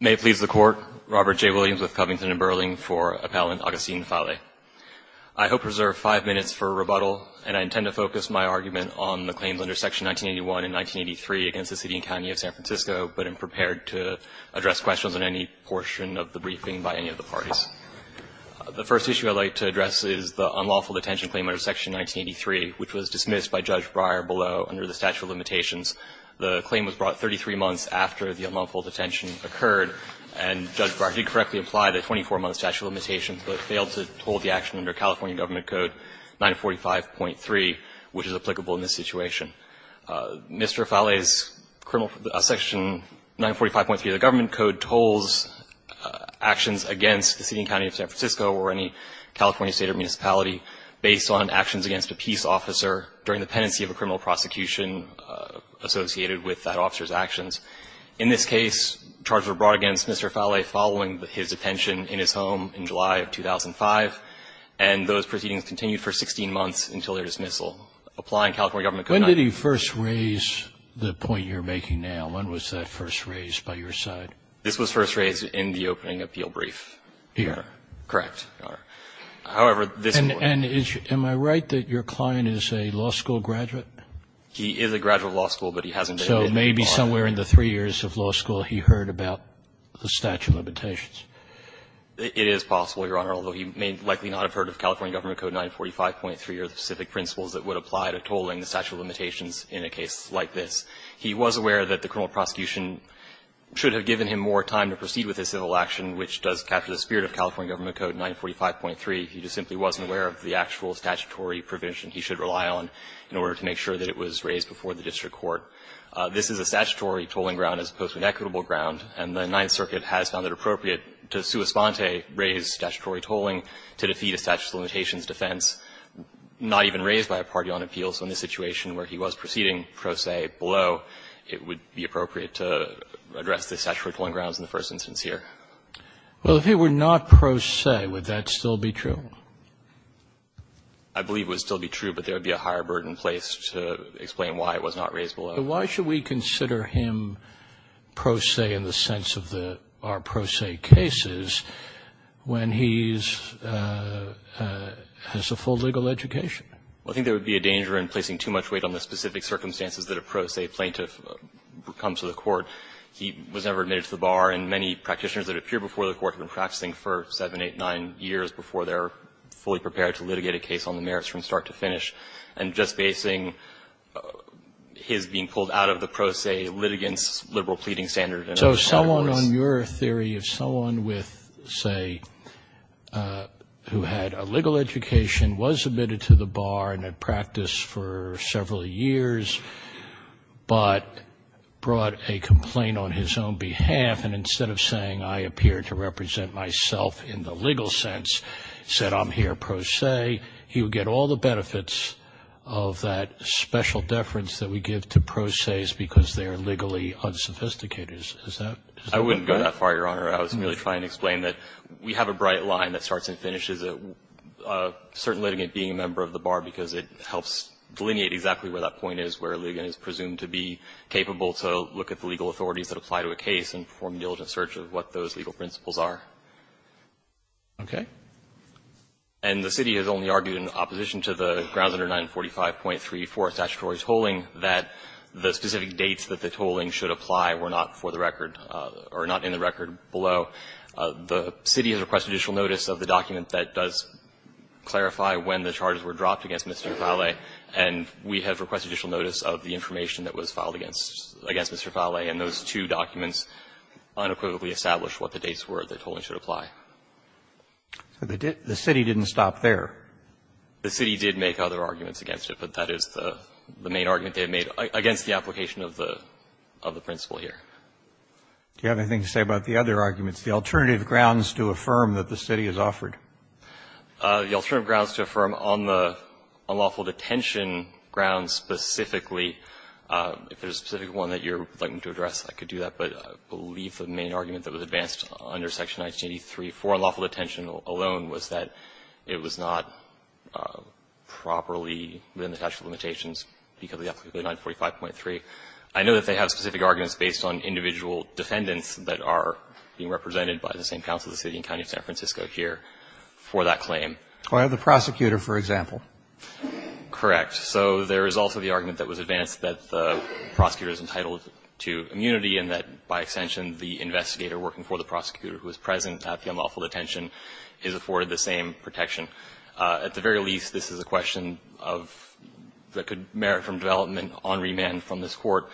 May it please the Court, Robert J. Williams, with Covington & Burling, for Appellant Augustine Fallay. I hope to reserve five minutes for rebuttal, and I intend to focus my argument on the claims under Section 1981 and 1983 against the City and County of San Francisco, but am prepared to address questions on any portion of the briefing by any of the parties. The first issue I would like to address is the unlawful detention claim under Section 1983, which was dismissed by Judge Breyer below, under the statute of limitations. The unlawful detention occurred, and Judge Breyer did correctly imply the 24-month statute of limitations, but failed to hold the action under California Government Code 945.3, which is applicable in this situation. Mr. Fallay's section 945.3 of the Government Code holds actions against the City and County of San Francisco or any California State or municipality based on actions against a peace officer during the pendency of a criminal prosecution associated with that officer's case. Charges were brought against Mr. Fallay following his detention in his home in July of 2005, and those proceedings continued for 16 months until their dismissal. Applying California Government Code 945.3. Scalia, when did he first raise the point you're making now? When was that first raised by your side? This was first raised in the opening appeal brief. Here? Correct, Your Honor. However, this was. And is your – am I right that your client is a law school graduate? And that's why he heard about the statute of limitations. It is possible, Your Honor, although he may likely not have heard of California Government Code 945.3 or the specific principles that would apply to tolling the statute of limitations in a case like this. He was aware that the criminal prosecution should have given him more time to proceed with his civil action, which does capture the spirit of California Government Code 945.3. He just simply wasn't aware of the actual statutory provision he should rely on in order to make sure that it was raised before the district court. This is a statutory tolling ground as opposed to an equitable ground, and the Ninth Circuit has found it appropriate to sua sponte raise statutory tolling to defeat a statute of limitations defense not even raised by a party on appeal. So in this situation where he was proceeding pro se below, it would be appropriate to address the statutory tolling grounds in the first instance here. Well, if it were not pro se, would that still be true? I believe it would still be true, but there would be a higher burden placed to explain why it was not raised below. But why should we consider him pro se in the sense of the pro se cases when he's has a full legal education? Well, I think there would be a danger in placing too much weight on the specific circumstances that a pro se plaintiff comes to the court. He was never admitted to the bar, and many practitioners that appear before the court have been practicing for 7, 8, 9 years before they're fully prepared to litigate a case on the merits from start to finish. And just basing his being pulled out of the pro se litigants' liberal pleading standard. So someone on your theory, if someone with, say, who had a legal education, was admitted to the bar and had practiced for several years, but brought a complaint on his own behalf, and instead of saying, I appear to represent myself in the legal sense, said, I'm here pro se, he would get all the benefits of that special deference that we give to pro ses because they are legally unsophisticated. Is that correct? I wouldn't go that far, Your Honor. I was merely trying to explain that we have a bright line that starts and finishes a certain litigant being a member of the bar because it helps delineate exactly where that point is, where a litigant is presumed to be capable to look at the legal authorities that apply to a case and perform a diligent search of what those legal principles are. Okay. And the city has only argued in opposition to the grounds under 945.3 for a statutory tolling that the specific dates that the tolling should apply were not for the record or not in the record below. The city has requested additional notice of the document that does clarify when the charges were dropped against Mr. Fale, and we have requested additional notice of the information that was filed against Mr. Fale, and those two documents unequivocally establish what the dates were that tolling should apply. So the city didn't stop there? The city did make other arguments against it, but that is the main argument they have made against the application of the principle here. Do you have anything to say about the other arguments, the alternative grounds to affirm that the city has offered? The alternative grounds to affirm on the unlawful detention grounds specifically if there's a specific one that you would like me to address, I could do that, but I believe the main argument that was advanced under section 1983 for unlawful detention alone was that it was not properly within the statute of limitations because of 945.3. I know that they have specific arguments based on individual defendants that are being represented by the same council of the city and county of San Francisco here for that claim. Or the prosecutor, for example. Correct. So there is also the argument that was advanced that the prosecutor is entitled to immunity and that, by extension, the investigator working for the prosecutor who is present at the unlawful detention is afforded the same protection. At the very least, this is a question that could merit from development on remand from this Court.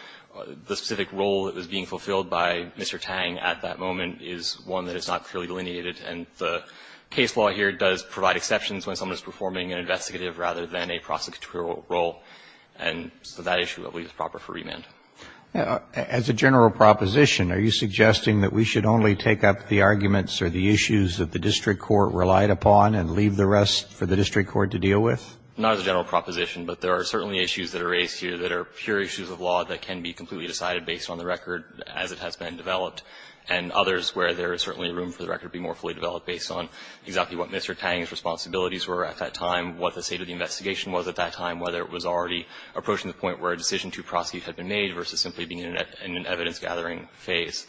The specific role that was being fulfilled by Mr. Tang at that moment is one that is not clearly delineated, and the case law here does provide exceptions when someone is performing an investigative rather than a prosecutorial role. And so that issue, I believe, is proper for remand. As a general proposition, are you suggesting that we should only take up the arguments or the issues that the district court relied upon and leave the rest for the district court to deal with? Not as a general proposition, but there are certainly issues that are raised here that are pure issues of law that can be completely decided based on the record as it has been developed, and others where there is certainly room for the record to be more fully developed based on exactly what Mr. Tang's responsibilities were at that time, what the state of the investigation was at that time, whether it was already approaching the point where a decision to prosecute had been made versus simply being in an evidence-gathering phase.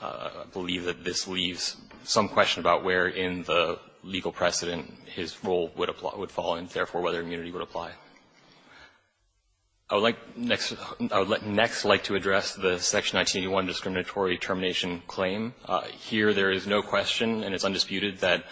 I believe that this leaves some question about where in the legal precedent his role would fall and, therefore, whether immunity would apply. I would like next to address the Section 1981 discriminatory termination claim. Here, there is no question and it's undisputed that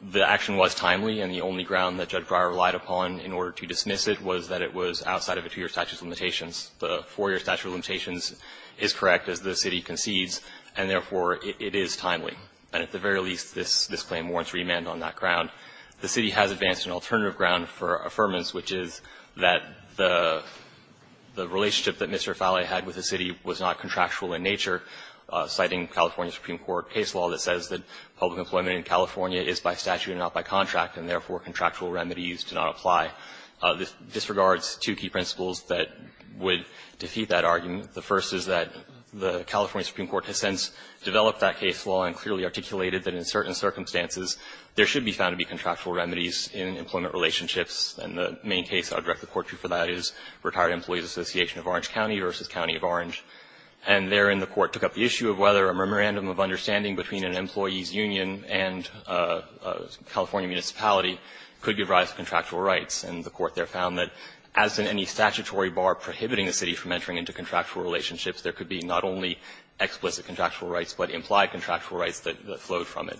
the action was timely and the only ground that Judge Breyer relied upon in order to dismiss it was that it was outside of a two-year statute of limitations. The four-year statute of limitations is correct, as the city concedes, and, therefore, it is timely. And at the very least, this claim warrants remand on that ground. The city has advanced an alternative ground for affirmance, which is that the relationship that Mr. Falley had with the city was not contractual in nature, citing California Supreme Court case law that says that public employment in California is by statute and not by contract, and, therefore, contractual remedies do not apply. This disregards two key principles that would defeat that argument. The first is that the California Supreme Court has since developed that case law and clearly articulated that in certain circumstances, there should be found to be contractual remedies in employment relationships, and the main case I would direct the Court to for that is Retired Employees Association of Orange County v. County of Orange. And therein, the Court took up the issue of whether a memorandum of understanding between an employee's union and a California municipality could give rise to contractual rights, and the Court there found that as in any statutory bar prohibiting a city from entering into contractual relationships, there could be not only explicit contractual rights but implied contractual rights that flowed from it.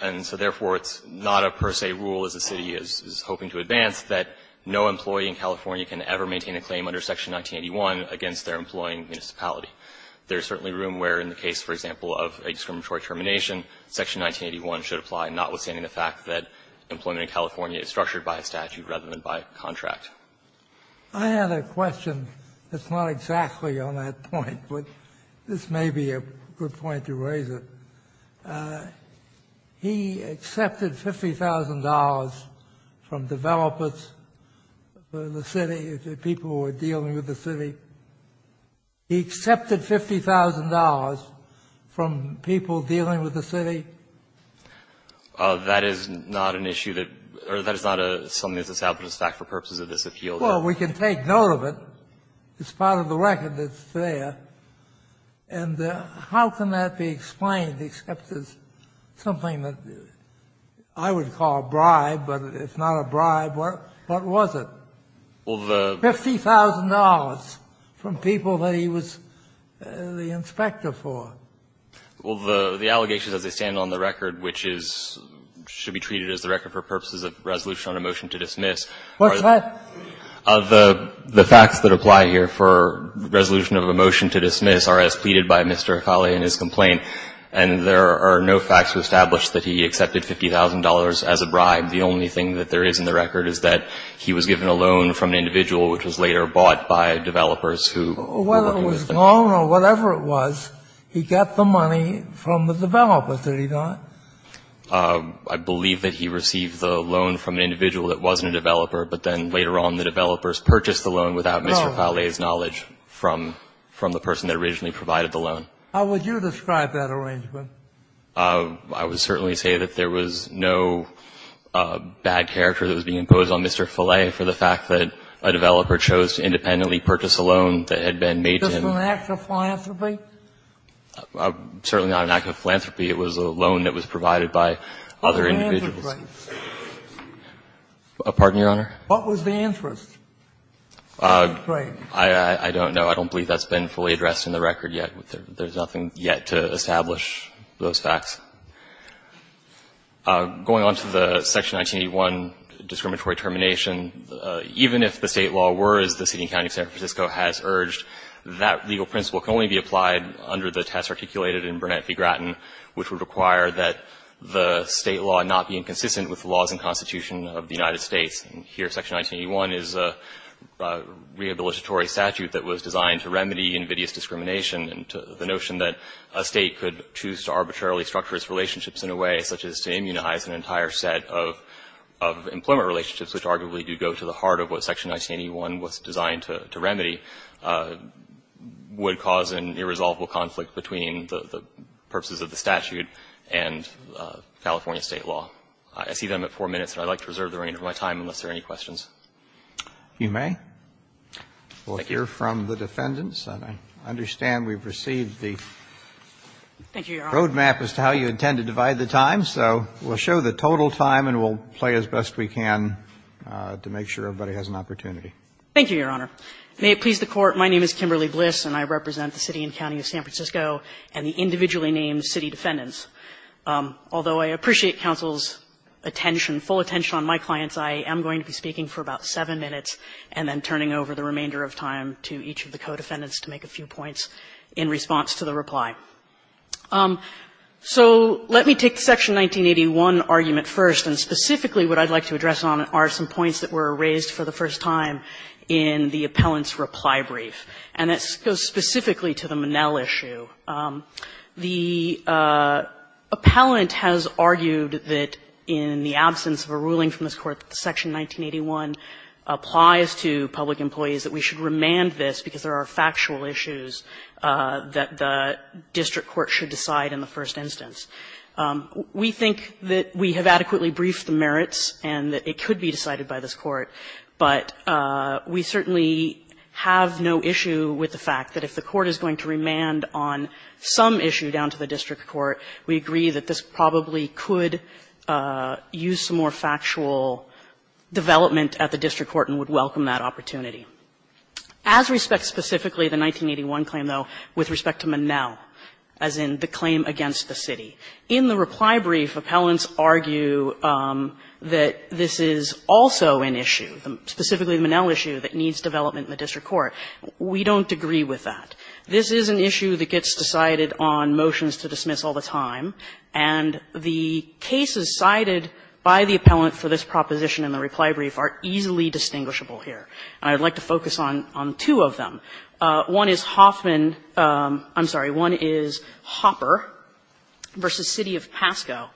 And so, therefore, it's not a per se rule, as the city is hoping to advance, that no employee in California can ever maintain a claim under Section 1981 against their employing municipality. There is certainly room where in the case, for example, of a discriminatory termination, Section 1981 should apply, notwithstanding the fact that employment in California is structured by a statute rather than by a contract. I had a question that's not exactly on that point, but this may be a good point to raise it. He accepted $50,000 from developers for the city, the people who were dealing with the city. He accepted $50,000 from people dealing with the city? That is not an issue that or that is not something that's established in fact for purposes of this appeal. Well, we can take note of it. It's part of the record that's there. And how can that be explained except as something that I would call a bribe, but it's not a bribe? What was it? $50,000 from people that he was the inspector for. Well, the allegations, as they stand on the record, which is, should be treated as the record for purposes of resolution on a motion to dismiss. What's that? The facts that apply here for resolution of a motion to dismiss are as pleaded by Mr. Akali in his complaint. And there are no facts to establish that he accepted $50,000 as a bribe. The only thing that there is in the record is that he was given a loan from an individual which was later bought by developers who were working with him. Whether it was loan or whatever it was, he got the money from the developer, did he not? He got the money from the developer, but then later on the developers purchased the loan without Mr. Falle's knowledge from the person that originally provided the loan. How would you describe that arrangement? I would certainly say that there was no bad character that was being imposed on Mr. Falle for the fact that a developer chose to independently purchase a loan that had been made to him. Was it an act of philanthropy? Certainly not an act of philanthropy. It was a loan that was provided by other individuals. What was the interest? I don't know. I don't believe that's been fully addressed in the record yet. There's nothing yet to establish those facts. Going on to the Section 1981 discriminatory termination, even if the State law were as the City and County of San Francisco has urged, that legal principle can only be applied under the test articulated in Burnett v. Gratton, which would require that the State law not be inconsistent with the laws and constitution of the United States. And here Section 1981 is a rehabilitatory statute that was designed to remedy invidious discrimination and the notion that a State could choose to arbitrarily structure its relationships in a way such as to immunize an entire set of employment relationships, which arguably do go to the heart of what Section 1981 was designed to remedy, would cause an irresolvable conflict between the purposes of the statute and California State law. I see that I'm at 4 minutes, and I'd like to reserve the remainder of my time unless there are any questions. Roberts. You may. We'll hear from the defendants. And I understand we've received the road map as to how you intend to divide the time. So we'll show the total time and we'll play as best we can to make sure everybody has an opportunity. Thank you, Your Honor. May it please the Court. My name is Kimberly Bliss, and I represent the City and County of San Francisco and the individually named city defendants. Although I appreciate counsel's attention, full attention on my clients, I am going to be speaking for about 7 minutes and then turning over the remainder of time to each of the co-defendants to make a few points in response to the reply. So let me take the Section 1981 argument first. And specifically what I'd like to address on it are some points that were raised for the first time in the appellant's reply brief, and that goes specifically to the Monell issue. The appellant has argued that in the absence of a ruling from this Court that Section 1981 applies to public employees, that we should remand this because there are factual issues that the district court should decide in the first instance. We think that we have adequately briefed the merits and that it could be decided by this Court, but we certainly have no issue with the fact that if the Court is going to remand on some issue down to the district court, we agree that this probably could use some more factual development at the district court and would welcome that opportunity. As respects specifically the 1981 claim, though, with respect to Monell, as in the claim against the city, in the reply brief, appellants argue that this is also an issue, specifically the Monell issue, that needs development in the district court. We don't agree with that. This is an issue that gets decided on motions to dismiss all the time, and the cases cited by the appellant for this proposition in the reply brief are easily distinguishable here. And I would like to focus on two of them. One is Hoffman – I'm sorry, one is Hopper v. City of Pascoe.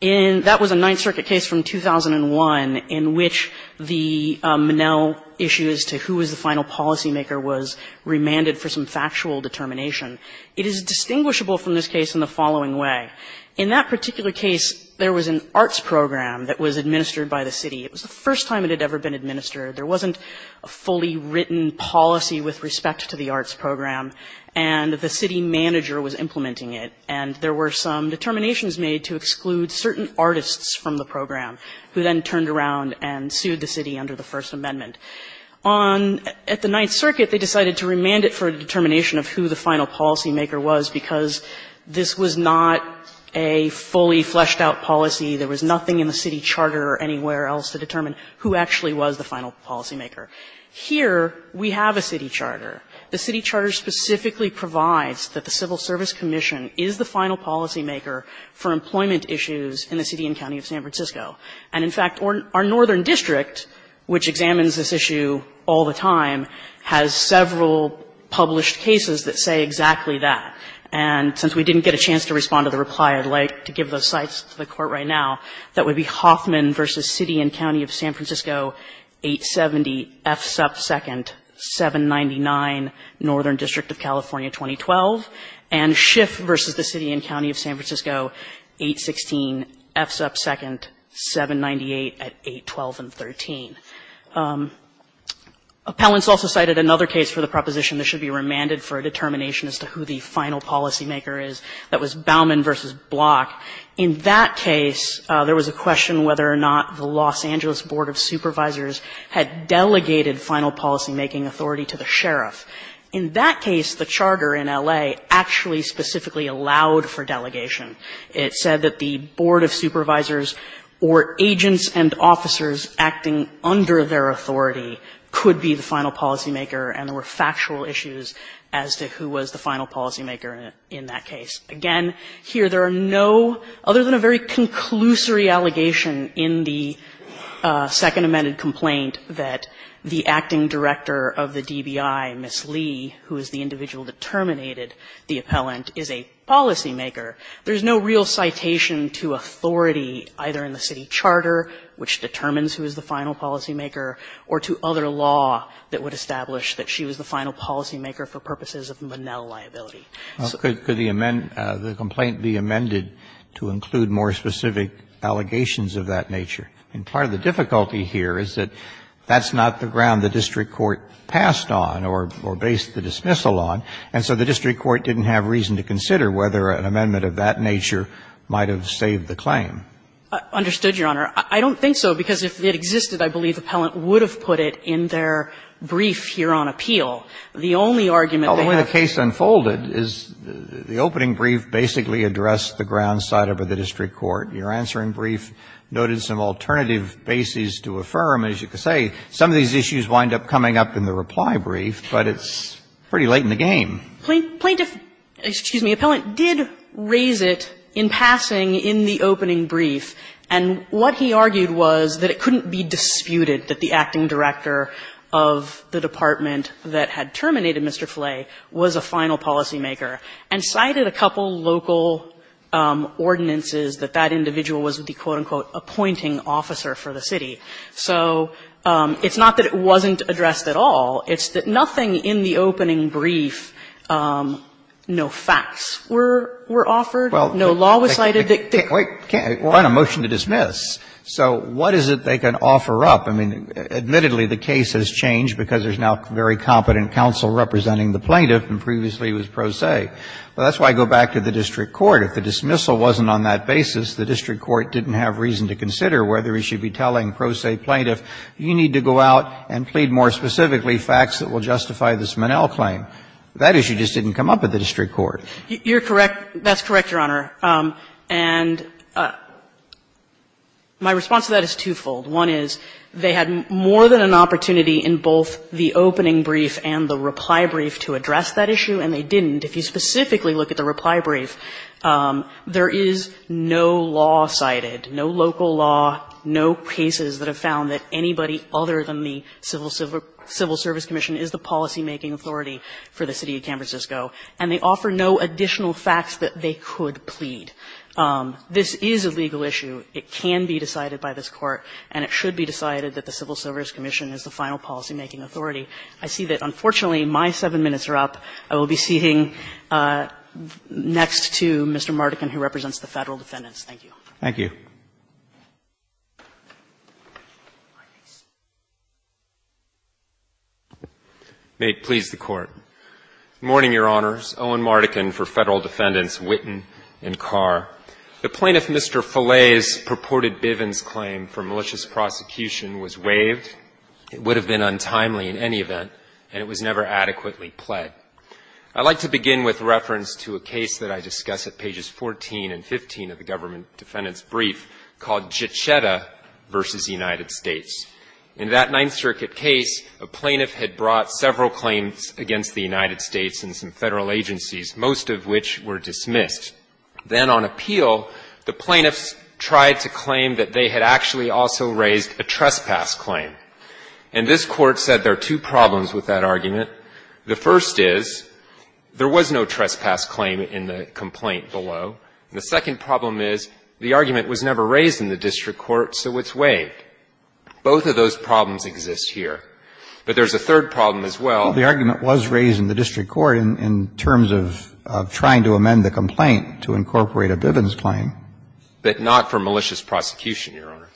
That was a Ninth Circuit case from 2001 in which the Monell issue as to who was the final policymaker was remanded for some factual determination. It is distinguishable from this case in the following way. In that particular case, there was an arts program that was administered by the city. It was the first time it had ever been administered. There wasn't a fully written policy with respect to the arts program, and the city manager was implementing it, and there were some determinations made to exclude certain artists from the program, who then turned around and sued the city under the First Amendment. At the Ninth Circuit, they decided to remand it for a determination of who the final policymaker was because this was not a fully fleshed-out policy. There was nothing in the city charter or anywhere else to determine who actually was the final policymaker. Here, we have a city charter. The city charter specifically provides that the Civil Service Commission is the final policymaker for employment issues in the city and county of San Francisco. And in fact, our northern district, which examines this issue all the time, has several published cases that say exactly that. And since we didn't get a chance to respond to the reply, I'd like to give those cites to the Court right now. That would be Hoffman v. City and County of San Francisco, 870 F. Sup. 2nd, 799 Northern District of California, 2012, and Schiff v. the City and County of San Francisco, 816 F. Sup. 2nd, 798 at 812 and 13. Appellants also cited another case for the proposition that should be remanded for a determination as to who the final policymaker is. That was Bauman v. Block. In that case, there was a question whether or not the Los Angeles Board of Supervisors had delegated final policymaking authority to the sheriff. In that case, the charter in L.A. actually specifically allowed for delegation. It said that the Board of Supervisors or agents and officers acting under their authority could be the final policymaker, and there were factual issues as to who was the final policymaker in that case. Again, here, there are no, other than a very conclusory allegation in the Second Amended Complaint, that the acting director of the DBI, Ms. Lee, who is the individual that terminated the appellant, is a policymaker. There is no real citation to authority either in the city charter, which determines who is the final policymaker, or to other law that would establish that she was the final policymaker for purposes of Monell liability. So could the amend, the complaint be amended to include more specific allegations of that nature? And part of the difficulty here is that that's not the ground the district court passed on or based the dismissal on, and so the district court didn't have reason to consider whether an amendment of that nature might have saved the claim. Understood, Your Honor. I don't think so, because if it existed, I believe the appellant would have put it in their brief here on appeal. The only argument they have. Well, the way the case unfolded is the opening brief basically addressed the ground side of the district court. Your answer in brief noted some alternative bases to affirm, as you could say. Some of these issues wind up coming up in the reply brief, but it's pretty late in the game. Plaintiff, excuse me, appellant did raise it in passing in the opening brief. And what he argued was that it couldn't be disputed that the acting director of the department that had terminated Mr. Flay was a final policymaker and cited a couple local ordinances that that individual was the, quote, unquote, appointing officer for the city. So it's not that it wasn't addressed at all. It's that nothing in the opening brief, no facts were offered, no law was cited. Wait. We're on a motion to dismiss. So what is it they can offer up? I mean, admittedly, the case has changed because there's now very competent counsel representing the plaintiff, and previously it was pro se. Well, that's why I go back to the district court. If the dismissal wasn't on that basis, the district court didn't have reason to consider whether he should be telling pro se plaintiff, you need to go out and plead more specifically facts that will justify this Monell claim. That issue just didn't come up at the district court. You're correct. That's correct, Your Honor. And my response to that is twofold. One is they had more than an opportunity in both the opening brief and the reply brief to address that issue, and they didn't. If you specifically look at the reply brief, there is no law cited, no local law, no cases that have found that anybody other than the Civil Service Commission is the policymaking authority for the City of San Francisco, and they offer no additional facts that they could plead. It can be decided by this Court. And it should be decided that the Civil Service Commission is the final policymaking authority. I see that, unfortunately, my seven minutes are up. I will be seating next to Mr. Mardikin, who represents the Federal defendants. Thank you. Thank you. May it please the Court. Good morning, Your Honors. Owen Mardikin for Federal defendants Witten and Carr. The plaintiff, Mr. Follay's, purported Bivens claim for malicious prosecution was waived. It would have been untimely in any event, and it was never adequately pled. I'd like to begin with reference to a case that I discuss at pages 14 and 15 of the Government Defendant's Brief called Jachetta v. United States. In that Ninth Circuit case, a plaintiff had brought several claims against the United States and some Federal agencies, most of which were dismissed. Then on appeal, the plaintiffs tried to claim that they had actually also raised a trespass claim. And this Court said there are two problems with that argument. The first is there was no trespass claim in the complaint below. The second problem is the argument was never raised in the district court, so it's waived. Both of those problems exist here. But there's a third problem as well. The argument was raised in the district court in terms of trying to amend the complaint to incorporate a Bivens claim. But not for malicious prosecution, Your Honor.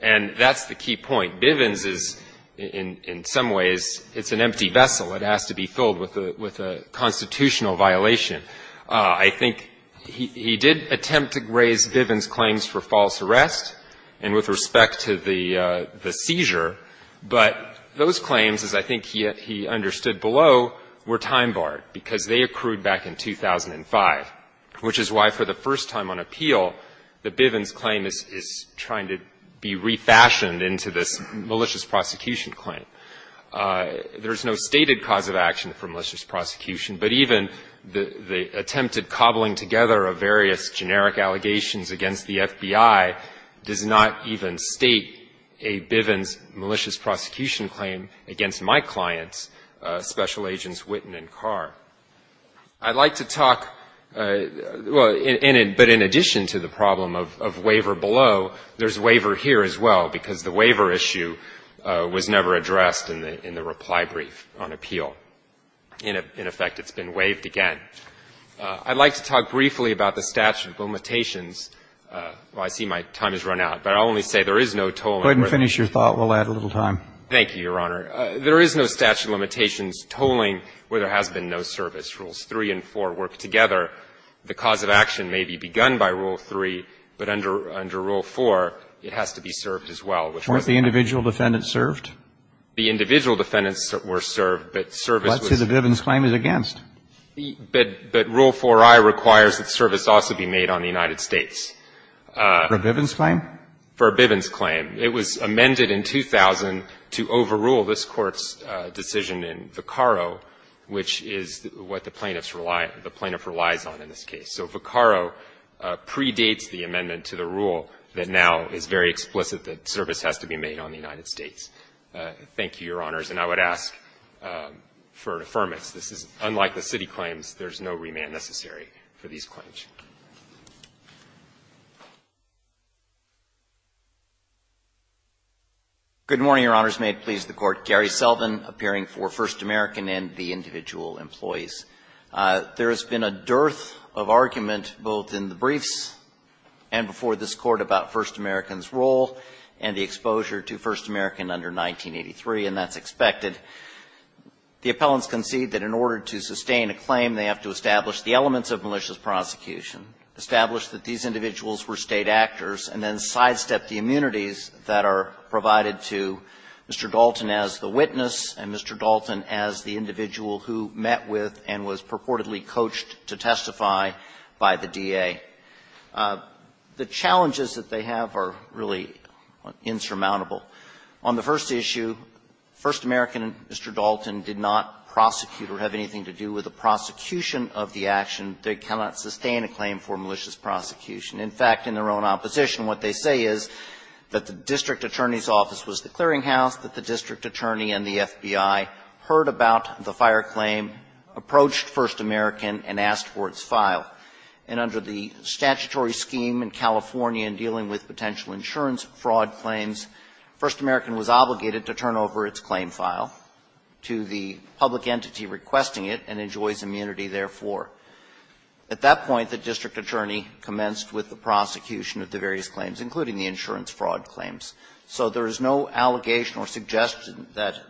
And that's the key point. Bivens is, in some ways, it's an empty vessel. It has to be filled with a constitutional violation. I think he did attempt to raise Bivens claims for false arrest and with respect to the seizure. But those claims, as I think he understood below, were time-barred because they accrued back in 2005, which is why for the first time on appeal, the Bivens claim is trying to be refashioned into this malicious prosecution claim. There's no stated cause of action for malicious prosecution, but even the attempted cobbling together of various generic allegations against the FBI does not even state a Bivens malicious prosecution claim against my clients, Special Agents Witten and Carr. I'd like to talk, well, but in addition to the problem of waiver below, there's waiver here as well because the waiver issue was never addressed in the reply brief on appeal. In effect, it's been waived again. I'd like to talk briefly about the statute of limitations. Well, I see my time has run out, but I'll only say there is no tolling. Go ahead and finish your thought. We'll add a little time. Thank you, Your Honor. There is no statute of limitations tolling where there has been no service. Rules 3 and 4 work together. The cause of action may be begun by Rule 3, but under Rule 4, it has to be served as well. Weren't the individual defendants served? The individual defendants were served, but service was. Let's say the Bivens claim is against. But Rule 4i requires that service also be made on the United States. For a Bivens claim? For a Bivens claim. It was amended in 2000 to overrule this Court's decision in Vaccaro, which is what the plaintiff relies on in this case. So Vaccaro predates the amendment to the rule that now is very explicit that service has to be made on the United States. Thank you, Your Honors. And I would ask for affirmance. This is unlike the city claims. There is no remand necessary for these claims. Good morning, Your Honors. May it please the Court. Gary Selvin, appearing for First American and the individual employees. There has been a dearth of argument both in the briefs and before this Court about First American's role and the exposure to First American under 1983, and that's expected. The appellants concede that in order to sustain a claim, they have to establish the elements of malicious prosecution, establish that these individuals were State actors, and then sidestep the immunities that are provided to Mr. Dalton as the witness and Mr. Dalton as the individual who met with and was purportedly coached to testify by the DA. The challenges that they have are really insurmountable. On the first issue, First American and Mr. Dalton did not prosecute or have anything to do with the prosecution of the action. They cannot sustain a claim for malicious prosecution. In fact, in their own opposition, what they say is that the district attorney's office was the clearinghouse, that the district attorney and the FBI heard about the fire claim, approached First American, and asked for its file. And under the statutory scheme in California in dealing with potential insurance fraud claims, First American was obligated to turn over its claim file to the public entity requesting it and enjoys immunity therefore. At that point, the district attorney commenced with the prosecution of the various claims, including the insurance fraud claims. So there is no allegation or suggestion that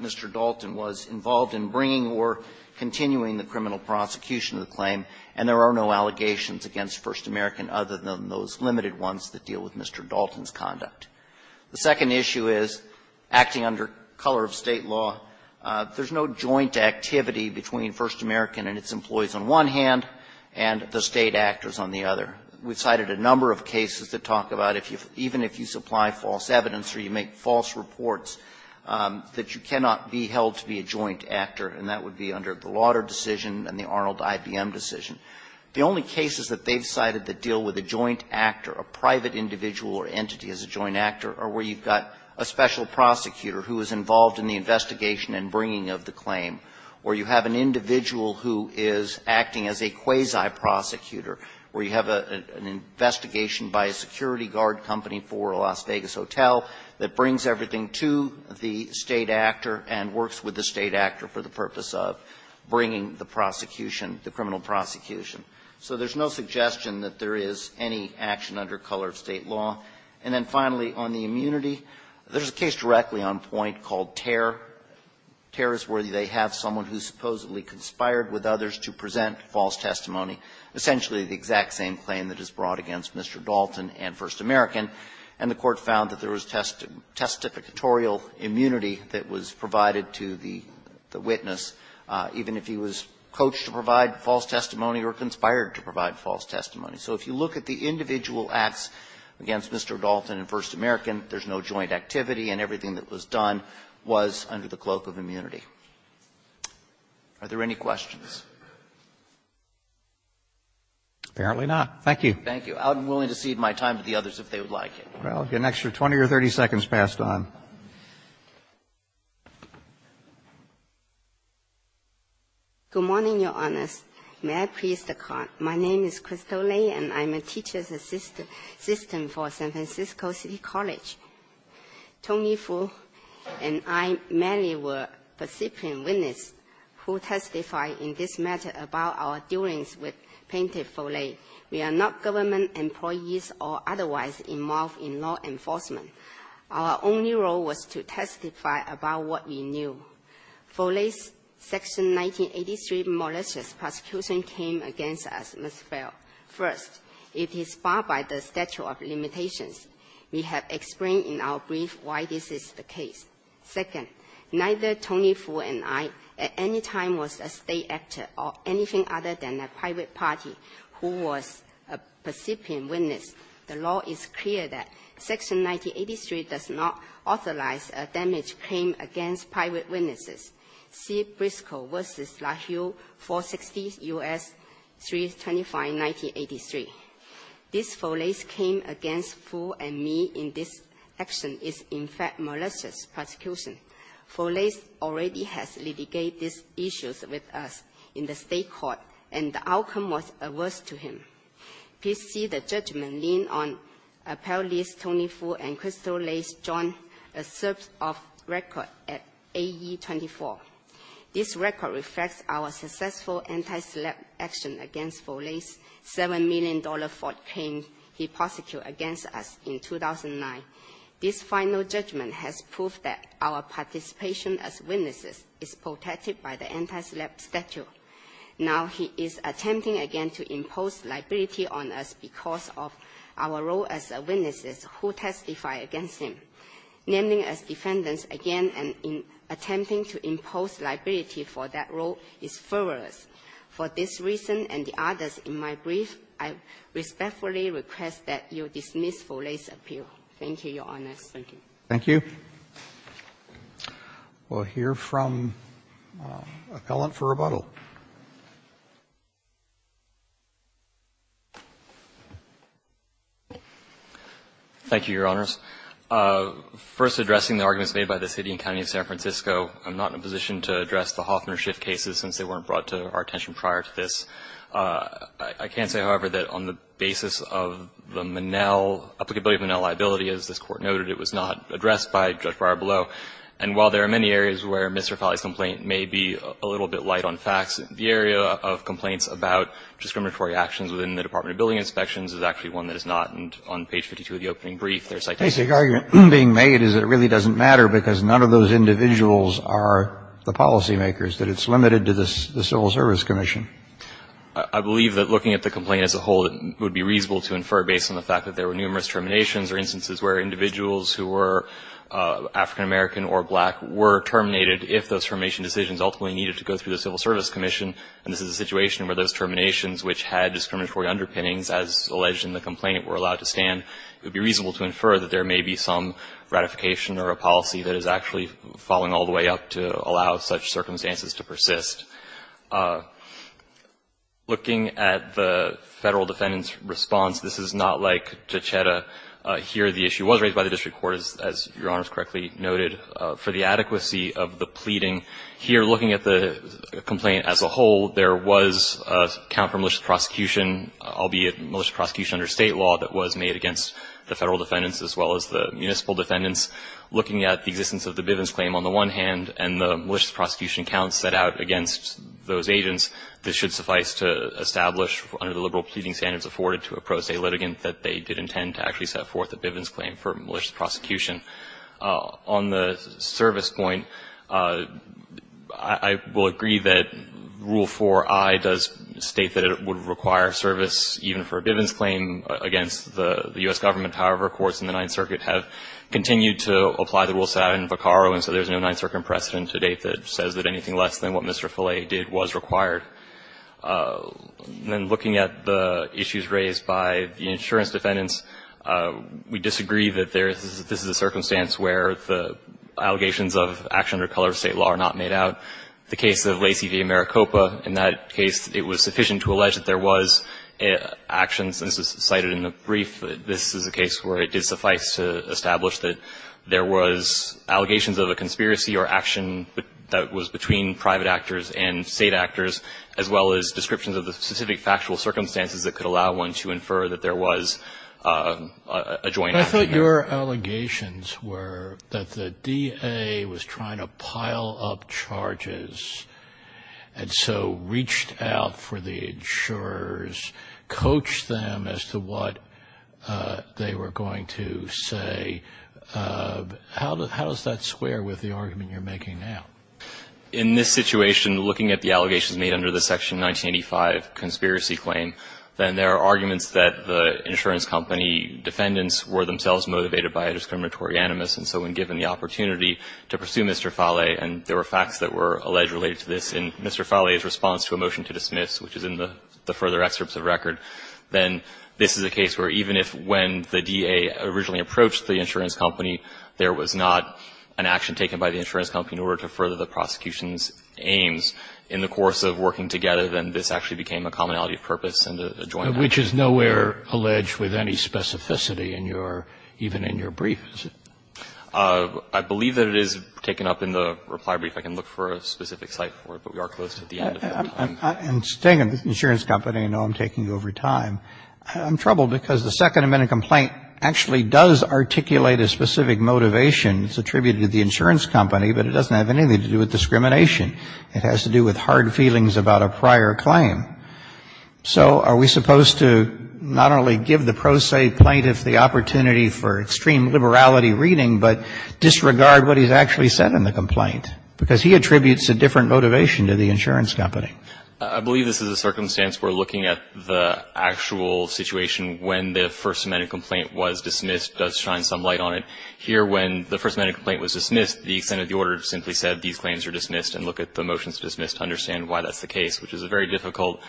Mr. Dalton was involved in bringing or continuing the criminal prosecution of the claim, and there are no allegations against First American other than those limited ones that deal with Mr. Dalton's conduct. The second issue is, acting under color of State law, there's no joint activity between First American and its employees on one hand and the State actors on the other. We've cited a number of cases that talk about, even if you supply false evidence or you make false reports, that you cannot be held to be a joint actor, and that would be under the Lauder decision and the Arnold-IBM decision. The only cases that they've cited that deal with a joint actor, a private individual or entity as a joint actor, are where you've got a special prosecutor who is involved in the investigation and bringing of the claim, or you have an individual who is acting as a quasi-prosecutor, where you have an investigation by a security guard company for a Las Vegas hotel that brings everything to the State actor and works with the State actor for the purpose of bringing the prosecution, the criminal prosecution. So there's no suggestion that there is any action under color of State law. And then finally, on the immunity, there's a case directly on point called Tear. Tear is where they have someone who supposedly conspired with others to present false testimony, essentially the exact same claim that is brought against Mr. Dalton and First American, and the Court found that there was testificatorial immunity that was provided to the witness, even if he was coached to provide false testimony or conspired to provide false testimony. So if you look at the individual acts against Mr. Dalton and First American, there's no joint activity, and everything that was done was under the cloak of immunity. Are there any questions? Roberts. Apparently not. Thank you. Thank you. I'm willing to cede my time to the others if they would like it. Well, an extra 20 or 30 seconds passed on. Good morning, Your Honors. May I please the card? My name is Crystal Lei, and I'm a teacher's assistant for San Francisco City College. Tony Fu and I mainly were percipient witness who testified in this matter about our dealings with Painter Foley. We are not government employees or otherwise involved in law enforcement. Our only role was to testify about what we knew. Foley's Section 1983 malicious prosecution came against us, Ms. Bell. First, it is barred by the statute of limitations. We have explained in our brief why this is the case. Second, neither Tony Fu and I at any time was a state actor or anything other than a private party who was a percipient witness. The law is clear that Section 1983 does not authorize a damage claim against private witnesses. See Briscoe v. LaHue, 460 U.S. 325, 1983. This Foley's claim against Fu and me in this action is, in fact, malicious prosecution. Foley already has litigated these issues with us in the state court, and the outcome was averse to him. Please see the judgment leaned on appellees Tony Fu and Crystal Lace joined a search of record at AE24. This record reflects our successful anti-slap action against Foley's $7 million fraud claim he prosecuted against us in 2009. This final judgment has proved that our participation as witnesses is protected by the anti-slap statute. Now he is attempting again to impose liability on us because of our role as witnesses who testify against him. Naming as defendants again and attempting to impose liability for that role is fervorous. For this reason and the others in my brief, I respectfully request that you dismiss Foley's appeal. Thank you, Your Honors. Thank you. Thank you. We'll hear from an appellant for rebuttal. Thank you, Your Honors. First, addressing the arguments made by the city and county of San Francisco, I'm not in a position to address the Hoffman or Schiff cases since they weren't brought to our attention prior to this. I can say, however, that on the basis of the Monell, applicability of Monell liability, as this Court noted, it was not addressed by Judge Barbaro. And while there are many areas where Mr. Foley's complaint may be a little bit light on facts, the area of complaints about discriminatory actions within the Department of Building Inspections is actually one that is not. And on page 52 of the opening brief, there is citation. The basic argument being made is it really doesn't matter because none of those individuals are the policymakers, that it's limited to the Civil Service Commission. I believe that looking at the complaint as a whole, it would be reasonable to infer based on the fact that there were numerous terminations or instances where individuals who were African American or black were terminated if those termination decisions ultimately needed to go through the Civil Service Commission. And this is a situation where those terminations which had discriminatory underpinnings, as alleged in the complaint, were allowed to stand. It would be reasonable to infer that there may be some ratification or a policy that is actually falling all the way up to allow such circumstances to persist. Looking at the Federal defendant's response, this is not like Juchetta. Here the issue was raised by the district court, as Your Honor has correctly noted, for the adequacy of the pleading. Here, looking at the complaint as a whole, there was a count for malicious prosecution, albeit a malicious prosecution under State law that was made against the Federal defendants as well as the municipal defendants. Looking at the existence of the Bivens claim on the one hand and the malicious prosecution count set out against those agents, this should suffice to establish under the liberal pleading standards afforded to a pro se litigant that they did intend to actually set forth a Bivens claim for malicious prosecution. On the service point, I will agree that Rule 4i does state that it would require service even for a Bivens claim against the U.S. government. However, courts in the Ninth Circuit have continued to apply the rules set out in Vicaro and so there is no Ninth Circuit precedent to date that says that anything less than what Mr. Follet did was required. Then looking at the issues raised by the insurance defendants, we disagree that there is this is a circumstance where the allegations of action under color of State law are not made out. The case of Lacey v. Maricopa, in that case, it was sufficient to allege that there was actions cited in the brief. This is a case where it did suffice to establish that there was allegations of a conspiracy or action that was between private actors and State actors, as well as descriptions of the specific factual circumstances that could allow one to infer that there was a joint action. I thought your allegations were that the DA was trying to pile up charges and so reached out for the insurers, coached them as to what they were going to say. How does that square with the argument you're making now? In this situation, looking at the allegations made under the Section 1985 conspiracy claim, then there are arguments that the insurance company defendants were themselves motivated by a discriminatory animus and so when given the opportunity to pursue Mr. Follet and there were facts that were alleged related to this in Mr. Follet's response to a motion to dismiss, which is in the further excerpts of record, then this is a case where even if when the DA originally approached the insurance company, there was not an action taken by the insurance company in order to further the prosecution's aims in the course of working together, then this actually became a commonality of purpose and a joint action. Which is nowhere alleged with any specificity in your, even in your brief, is it? I believe that it is taken up in the reply brief. I can look for a specific site for it, but we are closed at the end of the time. I'm staying at the insurance company. I know I'm taking over time. I'm troubled because the second amendment complaint actually does articulate a specific motivation. It's attributed to the insurance company, but it doesn't have anything to do with discrimination. It has to do with hard feelings about a prior claim. So are we supposed to not only give the pro se plaintiff the opportunity for extreme liberality reading, but disregard what he's actually said in the complaint? Because he attributes a different motivation to the insurance company. I believe this is a circumstance where looking at the actual situation when the first amendment complaint was dismissed does shine some light on it. Here, when the first amendment complaint was dismissed, the extent of the order simply said these claims are dismissed, and look at the motions dismissed to understand why that's the case, which is a very difficult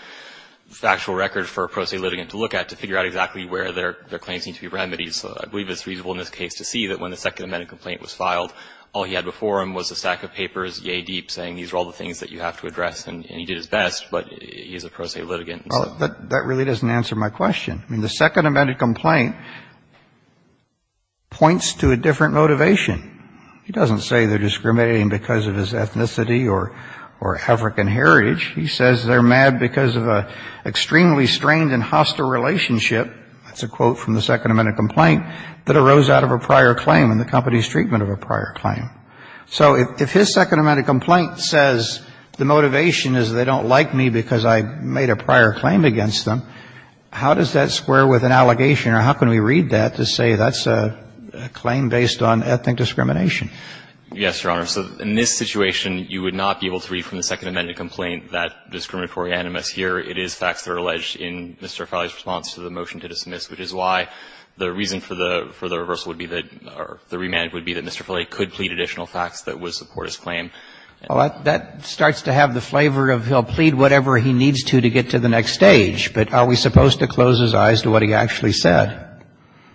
factual record for a pro se litigant to look at to figure out exactly where their claims need to be remedied. So I believe it's reasonable in this case to see that when the second amendment complaint was filed, all he had before him was a stack of papers, yay deep, saying these are all the things that you have to address, and he did his best, but he's a pro se litigant. Well, that really doesn't answer my question. I mean, the second amendment complaint points to a different motivation. He doesn't say they're discriminating because of his ethnicity or African heritage. He says they're mad because of an extremely strained and hostile relationship, that's a quote from the second amendment complaint, that arose out of a prior claim and the company's treatment of a prior claim. So if his second amendment complaint says the motivation is they don't like me because I made a prior claim against them, how does that square with an allegation, or how can we read that to say that's a claim based on ethnic discrimination? Yes, Your Honor. So in this situation, you would not be able to read from the second amendment complaint that discriminatory animus here. It is facts that are alleged in Mr. Farley's response to the motion to dismiss, which is why the reason for the reversal would be that, or the remand would be that there are additional facts that would support his claim. Well, that starts to have the flavor of he'll plead whatever he needs to to get to the next stage. But are we supposed to close his eyes to what he actually said?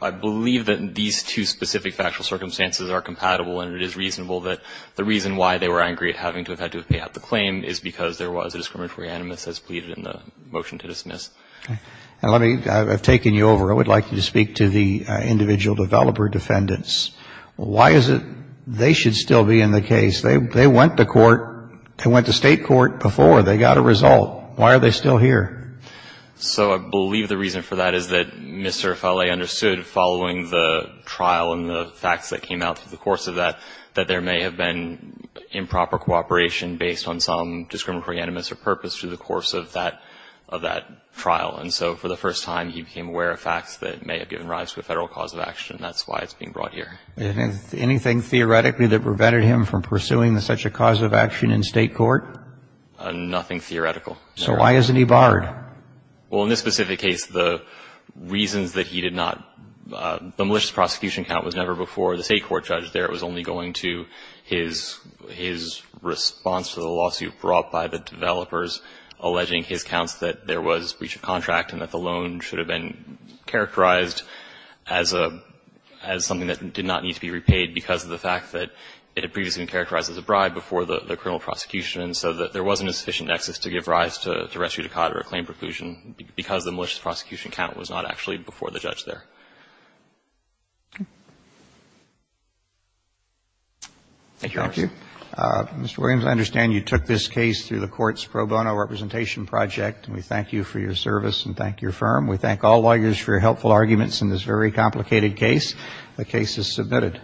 I believe that these two specific factual circumstances are compatible and it is reasonable that the reason why they were angry at having to have had to have paid out the claim is because there was a discriminatory animus as pleaded in the motion to dismiss. And let me, I've taken you over. I would like you to speak to the individual developer defendants. Why is it they should still be in the case? They went to court. They went to State court before. They got a result. Why are they still here? So I believe the reason for that is that Mr. Farley understood following the trial and the facts that came out through the course of that, that there may have been improper cooperation based on some discriminatory animus or purpose through the course of that trial. And so for the first time, he became aware of facts that may have given rise to a Federal cause of action. And that's why it's being brought here. Anything theoretically that prevented him from pursuing such a cause of action in State court? Nothing theoretical. So why isn't he barred? Well, in this specific case, the reasons that he did not, the malicious prosecution count was never before the State court judge there. It was only going to his response to the lawsuit brought by the developers alleging his counts that there was breach of contract and that the loan should have been characterized as a, as something that did not need to be repaid because of the fact that it had previously been characterized as a bribe before the criminal prosecution. And so there wasn't a sufficient nexus to give rise to res judicata or claim preclusion because the malicious prosecution count was not actually before the judge there. Thank you, Your Honor. Mr. Williams, I understand you took this case through the court's pro bono representation project. We thank you for your service and thank your firm. We thank all lawyers for your helpful arguments in this very complicated case. The case is submitted.